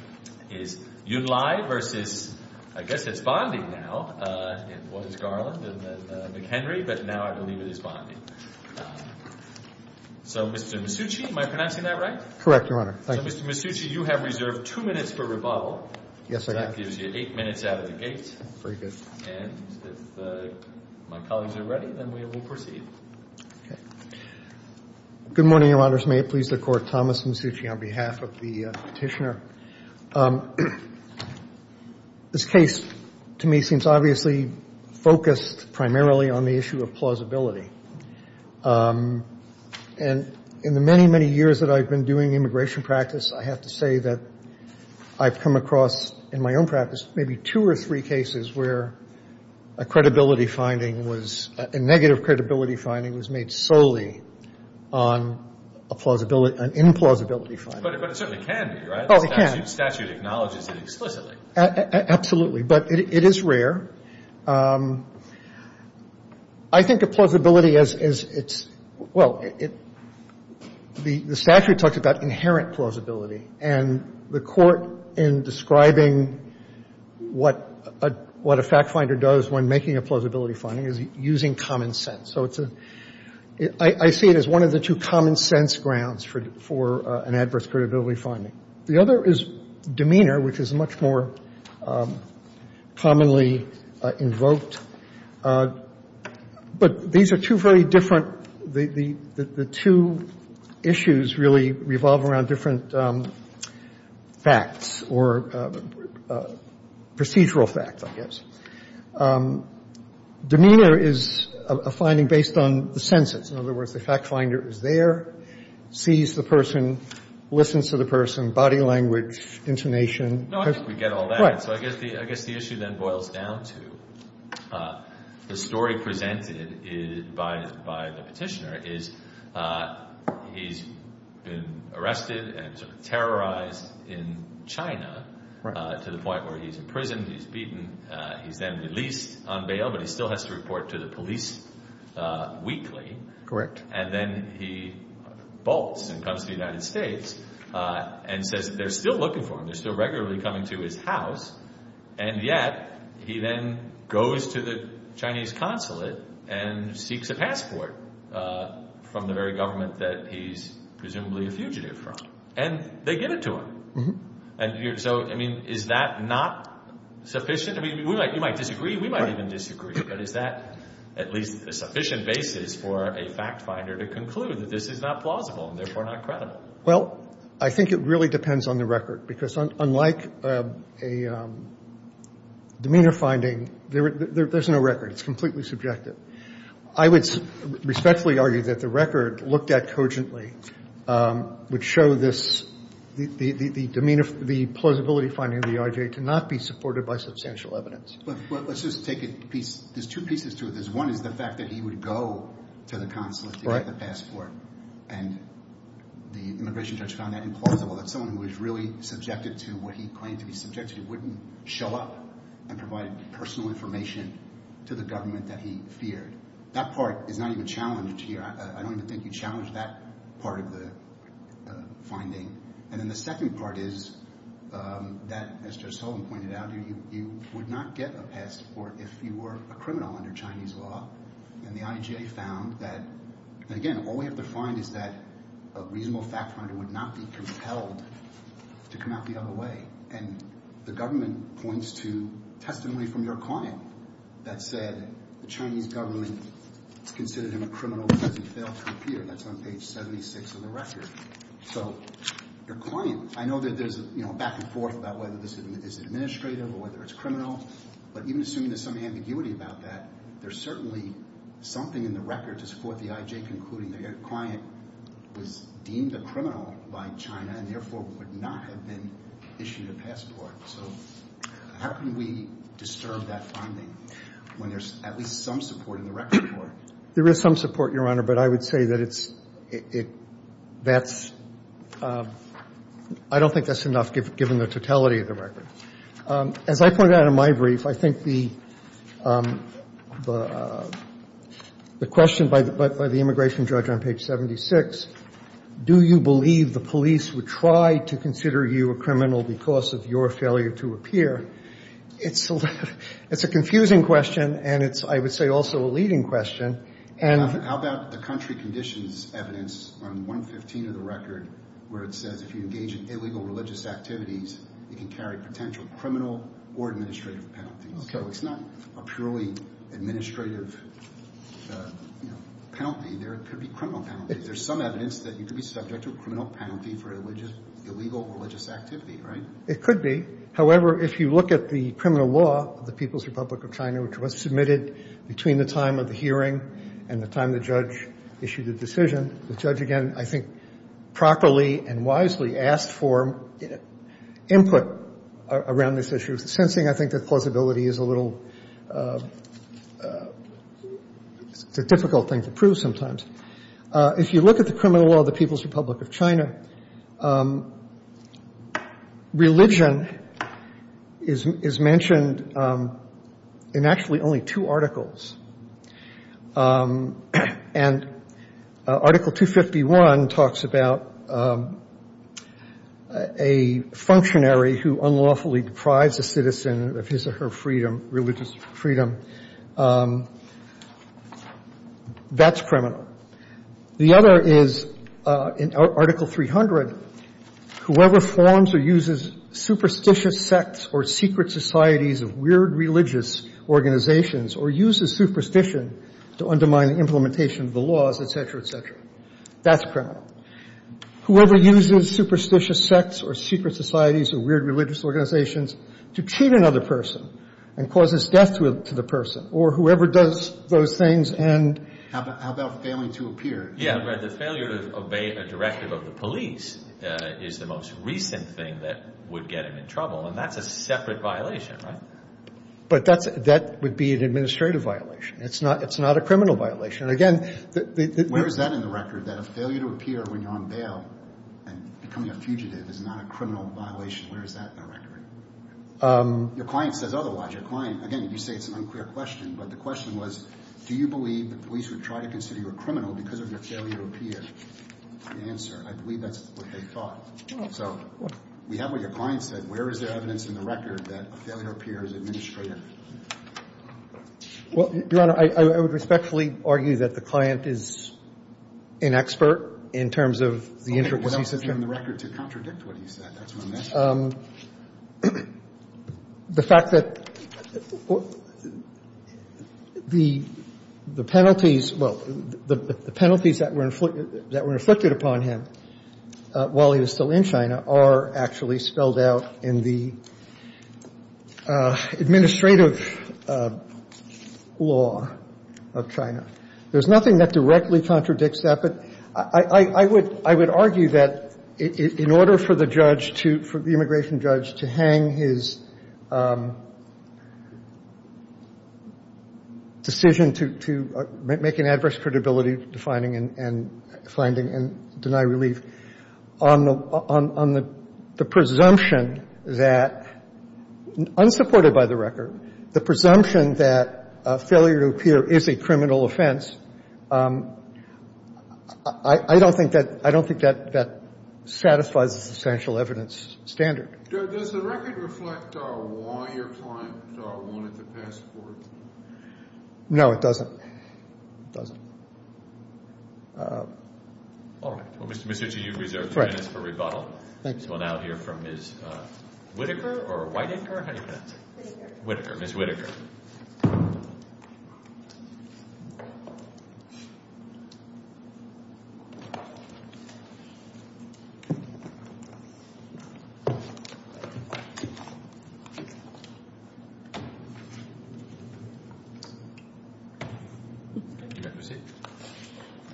Mr. Masucci, you have reserved two minutes for rebuttal, so that gives you eight minutes out of the gate, and if my colleagues are ready, then we will proceed. Good morning, Your Honors. May it please the Court, Thomas Masucci on behalf of the Petitioner. This case, to me, seems obviously focused primarily on the issue of plausibility. And in the many, many years that I've been doing immigration practice, I have to say that I've come across, in my own practice, maybe two or three cases where a credibility finding was — a negative credibility finding was made solely on a plausibility — an implausibility finding. But it certainly can be, right? Oh, it can. The statute acknowledges it explicitly. Absolutely. But it is rare. I think a plausibility, as it's — well, the statute talks about inherent plausibility, and the Court, in describing what a fact finder does when making a plausibility finding, is using common sense. So it's a — I see it as one of the two common-sense grounds for an adverse credibility finding. The other is demeanor, which is much more commonly invoked. But these are two very different — the two issues really revolve around different facts, or procedural facts, I guess. Demeanor is a finding based on the senses. In other words, the fact finder is there, sees the person, listens to the person, body language, intonation. No, I think we get all that. So I guess the — I guess the issue then boils down to the story presented by the Petitioner is he's been arrested and terrorized in China to the point where he's imprisoned, he's beaten, he's then released on bail, but he still has to report to the police weekly. Correct. And then he bolts and comes to the United States and says they're still looking for him, they're still regularly coming to his house. And yet he then goes to the Chinese consulate and seeks a passport from the very government that he's presumably a fugitive from. And they give it to him. And so, I mean, is that not sufficient? I mean, we might — you might disagree, we might even disagree. But is that at least a sufficient basis for a fact finder to conclude that this is not plausible and therefore not credible? Well, I think it really depends on the record. Because unlike a demeanor finding, there's no record. It's completely subjective. I would respectfully argue that the record looked at cogently would show this — the plausibility finding of the IRJ to not be supported by substantial evidence. But let's just take a piece — there's two pieces to this. One is the fact that he would go to the consulate to get the passport. And the immigration judge found that implausible. That someone who was really subjected to what he claimed to be subjective wouldn't show up and provide personal information to the government that he feared. That part is not even challenged here. I don't even think you challenge that part of the finding. And then the second part is that, as Judge Sullivan pointed out, you would not get a passport if you were a criminal under Chinese law. And the IJA found that — and again, all we have to find is that a reasonable fact finder would not be compelled to come out the other way. And the government points to testimony from your client that said the Chinese government is considered him a criminal because he failed to appear. That's on page 76 of the record. So your client — I know that there's back and forth about whether this is administrative or whether it's criminal. But even assuming there's some ambiguity about that, there's certainly something in the record to support the IJA concluding that your client was deemed a criminal by China and therefore would not have been issued a passport. So how can we disturb that finding when there's at least some support in the record? MR. SULLIVAN There is some support, Your Honor. But I would say that it's — that's — I don't think that's enough, given the totality of the record. As I pointed out in my brief, I think the question by the immigration judge on page 76, do you believe the police would try to consider you a criminal because of your failure to appear, it's — it's a confusing question and it's, I would say, also a leading question. And — GOLDSTEIN How about the country conditions evidence on 115 of the record where it says if you engage in illegal religious activities, you can carry potential criminal or administrative penalties? So it's not a purely administrative penalty. There could be criminal penalties. There's some evidence that you could be subject to a criminal penalty for illegal religious activity, right? MR. SULLIVAN It could be. However, if you look at the criminal law of the People's Republic of China, which was submitted between the time of the hearing and the time the judge issued the decision, the judge, again, I think, properly and wisely asked for input around this issue, sensing, I think, that plausibility is a little — it's a difficult thing to prove sometimes. If you look at the criminal law of the People's Republic of China, religion is mentioned in actually only two articles. And Article 251 talks about a functionary who unlawfully deprives a citizen of his or her freedom, religious freedom. That's criminal. The other is in Article 300, whoever forms or uses superstitious sects or secret societies of weird religious organizations or uses superstition to undermine the implementation of the laws, et cetera, et cetera, that's criminal. Whoever uses superstitious sects or secret societies or weird religious organizations to cheat another person and causes death to the person or whoever does those things and — Yeah, but the failure to obey a directive of the police is the most recent thing that would get him in trouble, and that's a separate violation, right? But that would be an administrative violation. It's not a criminal violation. Again, the — Where is that in the record, that a failure to appear when you're on bail and becoming a fugitive is not a criminal violation? Where is that in the record? Your client says otherwise. Your client — again, you say it's an unclear question, but the question was, do you believe the police would try to consider you a criminal because of your failure to appear? The answer, I believe that's what they thought. So we have what your client said. Where is there evidence in the record that a failure to appear is administrative? Well, Your Honor, I would respectfully argue that the client is an expert in terms of the intricacies of — Okay, but it's not in the record to contradict what he said. That's my message. The fact that the penalties — well, the penalties that were inflicted upon him while he was still in China are actually spelled out in the administrative law of China. There's nothing that directly contradicts that, but I would argue that in order for the judge to — for the immigration judge to hang his decision to make an adverse credibility to finding and — finding and deny relief on the — on the presumption that, unsupported by the record, the presumption that a failure to appear is a criminal standard. Does the record reflect why your client wanted the passport? No, it doesn't. It doesn't. All right. Mr. Chiu, you reserve three minutes for rebuttal. Thank you. We'll now hear from Ms. Whitaker or Whitaker? How do you pronounce it? Whitaker. Whitaker, Ms. Whitaker.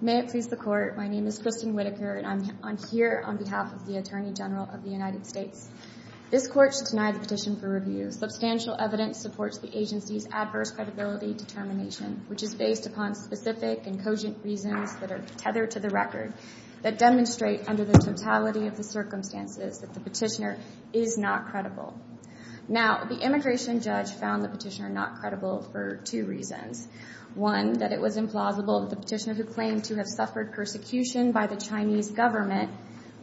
May it please the Court. My name is Kristin Whitaker, and I'm here on behalf of the Attorney General of the United States. This Court should deny the petition for review. Substantial evidence supports the agency's adverse credibility determination, which is based upon specific and cogent reasons that are tethered to the record that demonstrate, under the totality of the circumstances, that the petitioner is not credible. Now, the immigration judge found the petitioner not credible for two reasons. One, that it was implausible that the petitioner, who claimed to have suffered persecution by the Chinese government,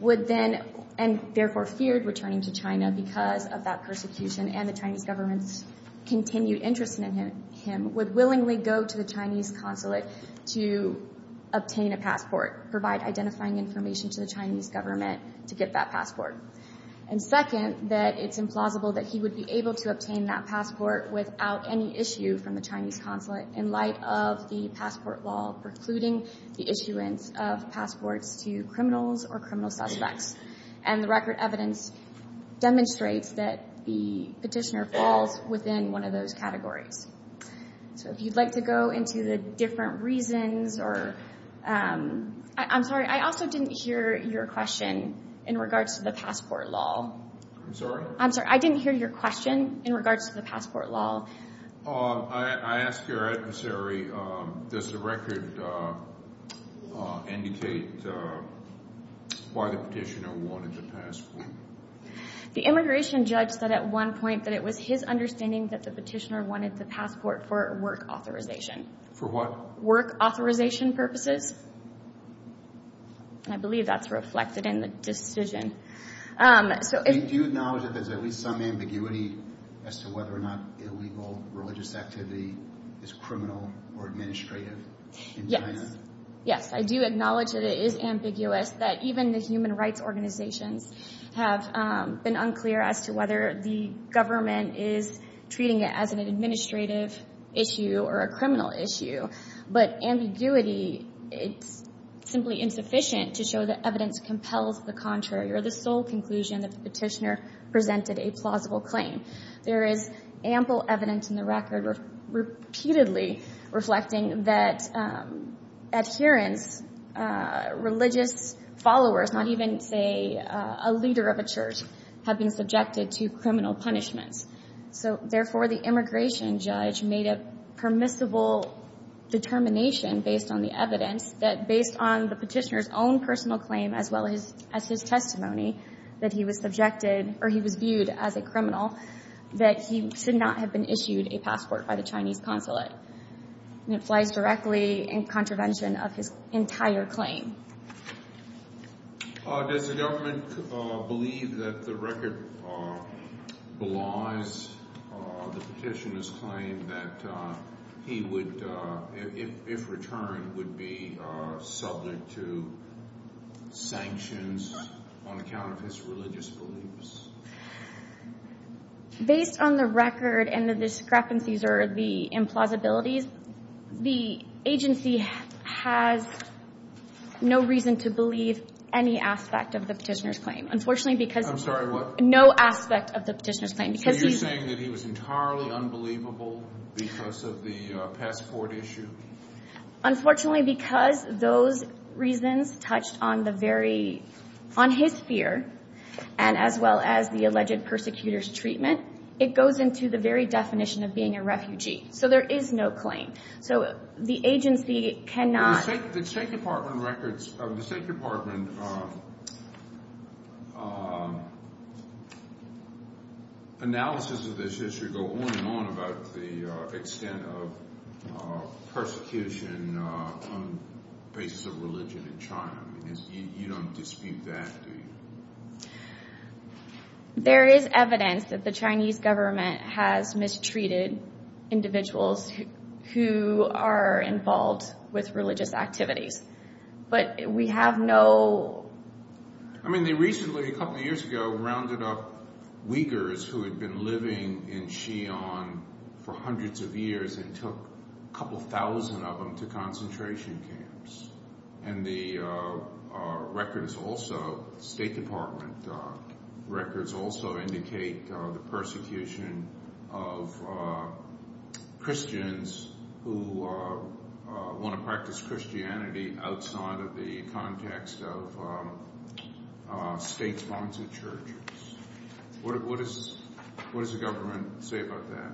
would then — and therefore feared returning to China because of that persecution and the Chinese government's continued interest in him — him — would willingly go to the Chinese consulate to obtain a passport, provide identifying information to the Chinese government to get that passport. And second, that it's implausible that he would be able to obtain that passport without any issue from the Chinese consulate in light of the passport law precluding the issuance of passports to criminals or criminal suspects. And the record evidence demonstrates that the petitioner falls within one of those categories. So if you'd like to go into the different reasons or — I'm sorry, I also didn't hear your question in regards to the passport law. I'm sorry? I'm sorry, I didn't hear your question in regards to the passport law. I ask your adversary, does the record indicate why the petitioner wanted the passport? The immigration judge said at one point that it was his understanding that the petitioner wanted the passport for work authorization. For what? Work authorization purposes. I believe that's reflected in the decision. So if — Do you acknowledge that there's at least some ambiguity as to whether or not illegal religious activity is criminal or administrative in China? Yes, I do acknowledge that it is ambiguous that even the human rights organizations have been unclear as to whether the government is treating it as an administrative issue or a criminal issue. But ambiguity, it's simply insufficient to show that evidence compels the contrary or the sole conclusion that the petitioner presented a plausible claim. There is ample evidence in the record repeatedly reflecting that adherents, religious followers, not even, say, a leader of a church, have been subjected to criminal punishments. So therefore, the immigration judge made a permissible determination based on the evidence that based on the petitioner's own personal claim as well as his testimony that he was subjected or he was viewed as a criminal, that he should not have been issued a passport by the Chinese consulate. It flies directly in contravention of his entire claim. Does the government believe that the record belies the petitioner's claim that he would — if returned, would be subject to sanctions on account of his religious beliefs? Based on the record and the discrepancies or the implausibilities, the agency has no reason to believe any aspect of the petitioner's claim. Unfortunately, because — I'm sorry, what? No aspect of the petitioner's claim. So you're saying that he was entirely unbelievable because of the passport issue? Unfortunately, because those reasons touched on the very — on his fear and as well as the alleged persecutor's treatment, it goes into the very definition of being a refugee. So there is no claim. So the agency cannot — The State Department records — the State Department analysis of this issue go on and on about the extent of persecution on the basis of religion in China. I mean, you don't dispute that, do you? There is evidence that the Chinese government has mistreated individuals who are involved with religious activities. But we have no — I mean, they recently, a couple of years ago, rounded up Uyghurs who had been living in Xi'an for hundreds of years and took a couple thousand of them to concentration camps. And the records also — State Department records also indicate the persecution of Christians who want to practice Christianity outside of the context of state-sponsored churches. What does the government say about that?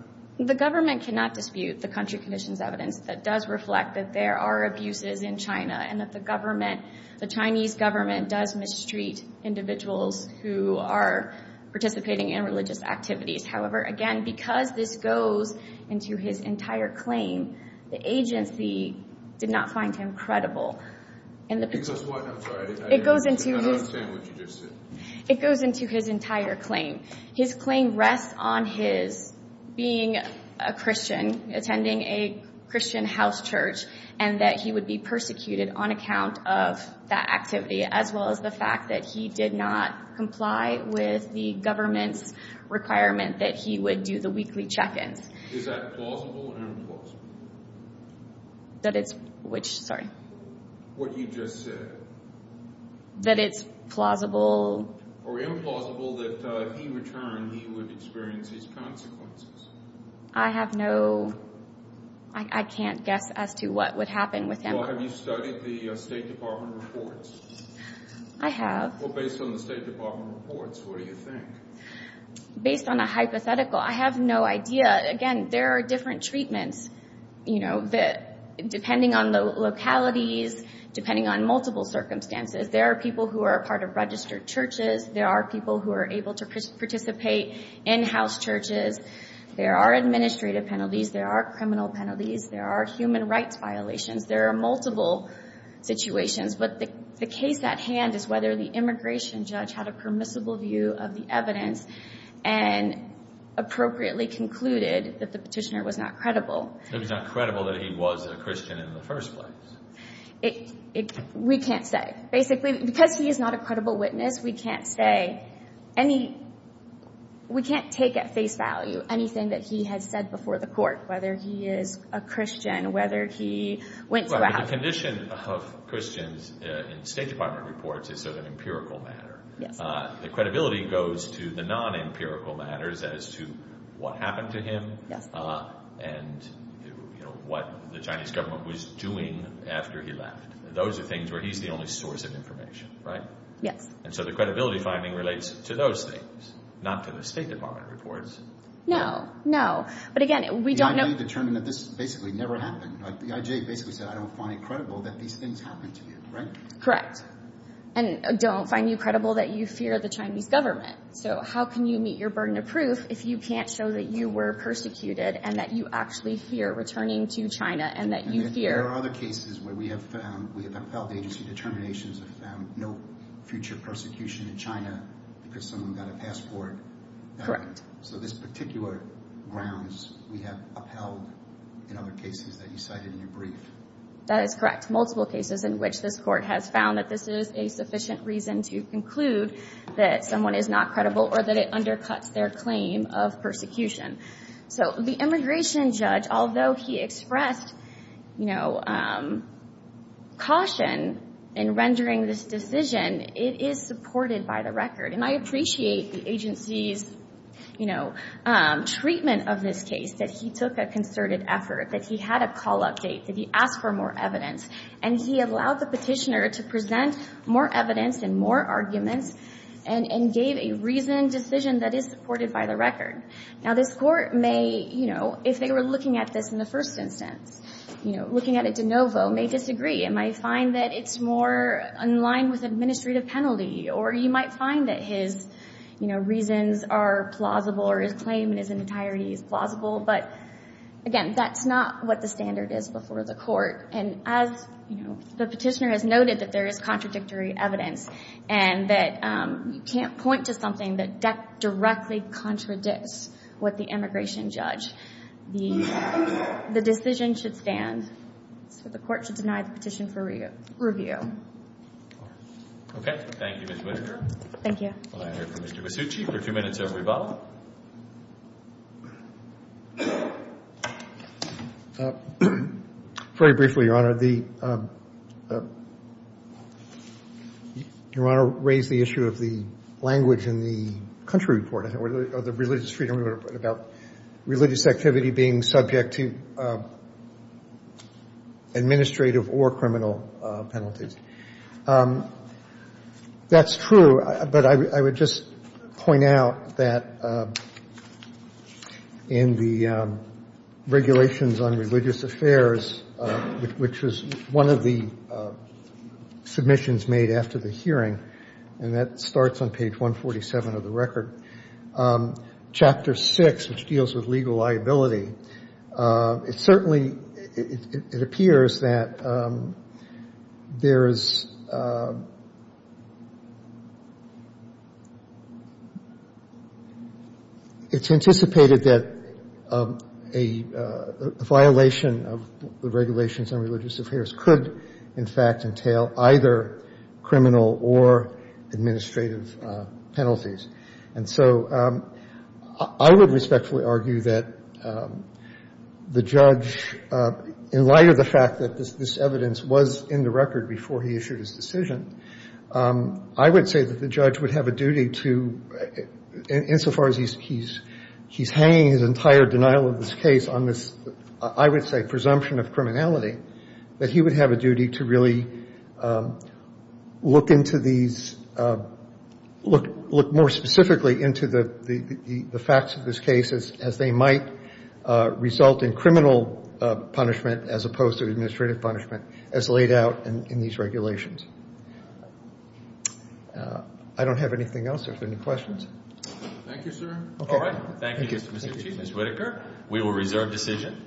The government cannot dispute the country conditions evidence that does reflect that there are abuses in China and that the government — the Chinese government does mistreat individuals who are participating in religious activities. However, again, because this goes into his entire claim, the agency did not find him credible in the — Because what? I'm sorry. It goes into his — I don't understand what you just said. It goes into his entire claim. His claim rests on his being a Christian, attending a Christian house church, and that he would be persecuted on account of that activity, as well as the fact that he did not comply with the government's requirement that he would do the weekly check-ins. Is that plausible or implausible? That it's — which? What you just said. That it's plausible — Or implausible that if he returned, he would experience his consequences. I have no — I can't guess as to what would happen with him. Well, have you studied the State Department reports? I have. Well, based on the State Department reports, what do you think? Based on a hypothetical, I have no idea. Again, there are different treatments, you know, that — depending on the localities, depending on multiple circumstances. There are people who are part of registered churches. There are people who are able to participate in house churches. There are administrative penalties. There are criminal penalties. There are human rights violations. There are multiple situations. But the case at hand is whether the immigration judge had a permissible view of the evidence and appropriately concluded that the petitioner was not credible. If he's not credible that he was a Christian in the first place. We can't say. Basically, because he is not a credible witness, we can't say any — we can't take at face value anything that he has said before the court, whether he is a Christian, whether he went to a house — A condition of Christians in State Department reports is sort of an empirical matter. The credibility goes to the non-empirical matters as to what happened to him and, you know, what the Chinese government was doing after he left. Those are things where he's the only source of information, right? Yes. And so the credibility finding relates to those things, not to the State Department reports. No, no. But again, we don't know — The IJ basically said, I don't find it credible that these things happened to you, right? And don't find you credible that you fear the Chinese government. So how can you meet your burden of proof if you can't show that you were persecuted and that you actually fear returning to China and that you fear — There are other cases where we have found — we have upheld agency determinations, have found no future persecution in China because someone got a passport. Correct. So this particular grounds, we have upheld in other cases that you cited in your brief. That is correct. Multiple cases in which this court has found that this is a sufficient reason to conclude that someone is not credible or that it undercuts their claim of persecution. So the immigration judge, although he expressed, you know, caution in rendering this decision, it is supported by the record. And I appreciate the agency's, you know, treatment of this case, that he took a concerted effort, that he had a call-up date, that he asked for more evidence. And he allowed the petitioner to present more evidence and more arguments and gave a reasoned decision that is supported by the record. Now, this court may, you know, if they were looking at this in the first instance, you know, looking at it de novo, may disagree. It might find that it's more in line with administrative penalty. Or you might find that his, you know, reasons are plausible, or his claim in its entirety is plausible. But again, that's not what the standard is before the court. And as, you know, the petitioner has noted that there is contradictory evidence and that you can't point to something that directly contradicts what the immigration judge. The decision should stand. So the court should deny the petition for review. Okay. Thank you, Ms. Whitaker. Thank you. We'll now hear from Mr. Basucci for a few minutes of rebuttal. Very briefly, Your Honor. The, Your Honor raised the issue of the language in the country report, or the religious freedom report, about religious activity being subject to administrative or criminal penalties. That's true. But I would just point out that in the regulations on religious affairs, which was one of the submissions made after the hearing, and that starts on page 147 of the record, chapter 6, which deals with legal liability, it certainly, it appears that there is, it's anticipated that a violation of the regulations on religious affairs could, in fact, entail either criminal or administrative penalties. And so I would respectfully argue that the judge, in light of the fact that this evidence was in the record before he issued his decision, I would say that the judge would have a duty to, insofar as he's hanging his entire denial of this case on this, I would say, presumption of criminality, that he would have a duty to really look into these, look more specifically into the facts of this case as they might result in criminal punishment, as opposed to administrative punishment, as laid out in these regulations. I don't have anything else. Are there any questions? Thank you, sir. All right. Thank you, Mr. Chief. Ms. Whitaker, we will reserve decision.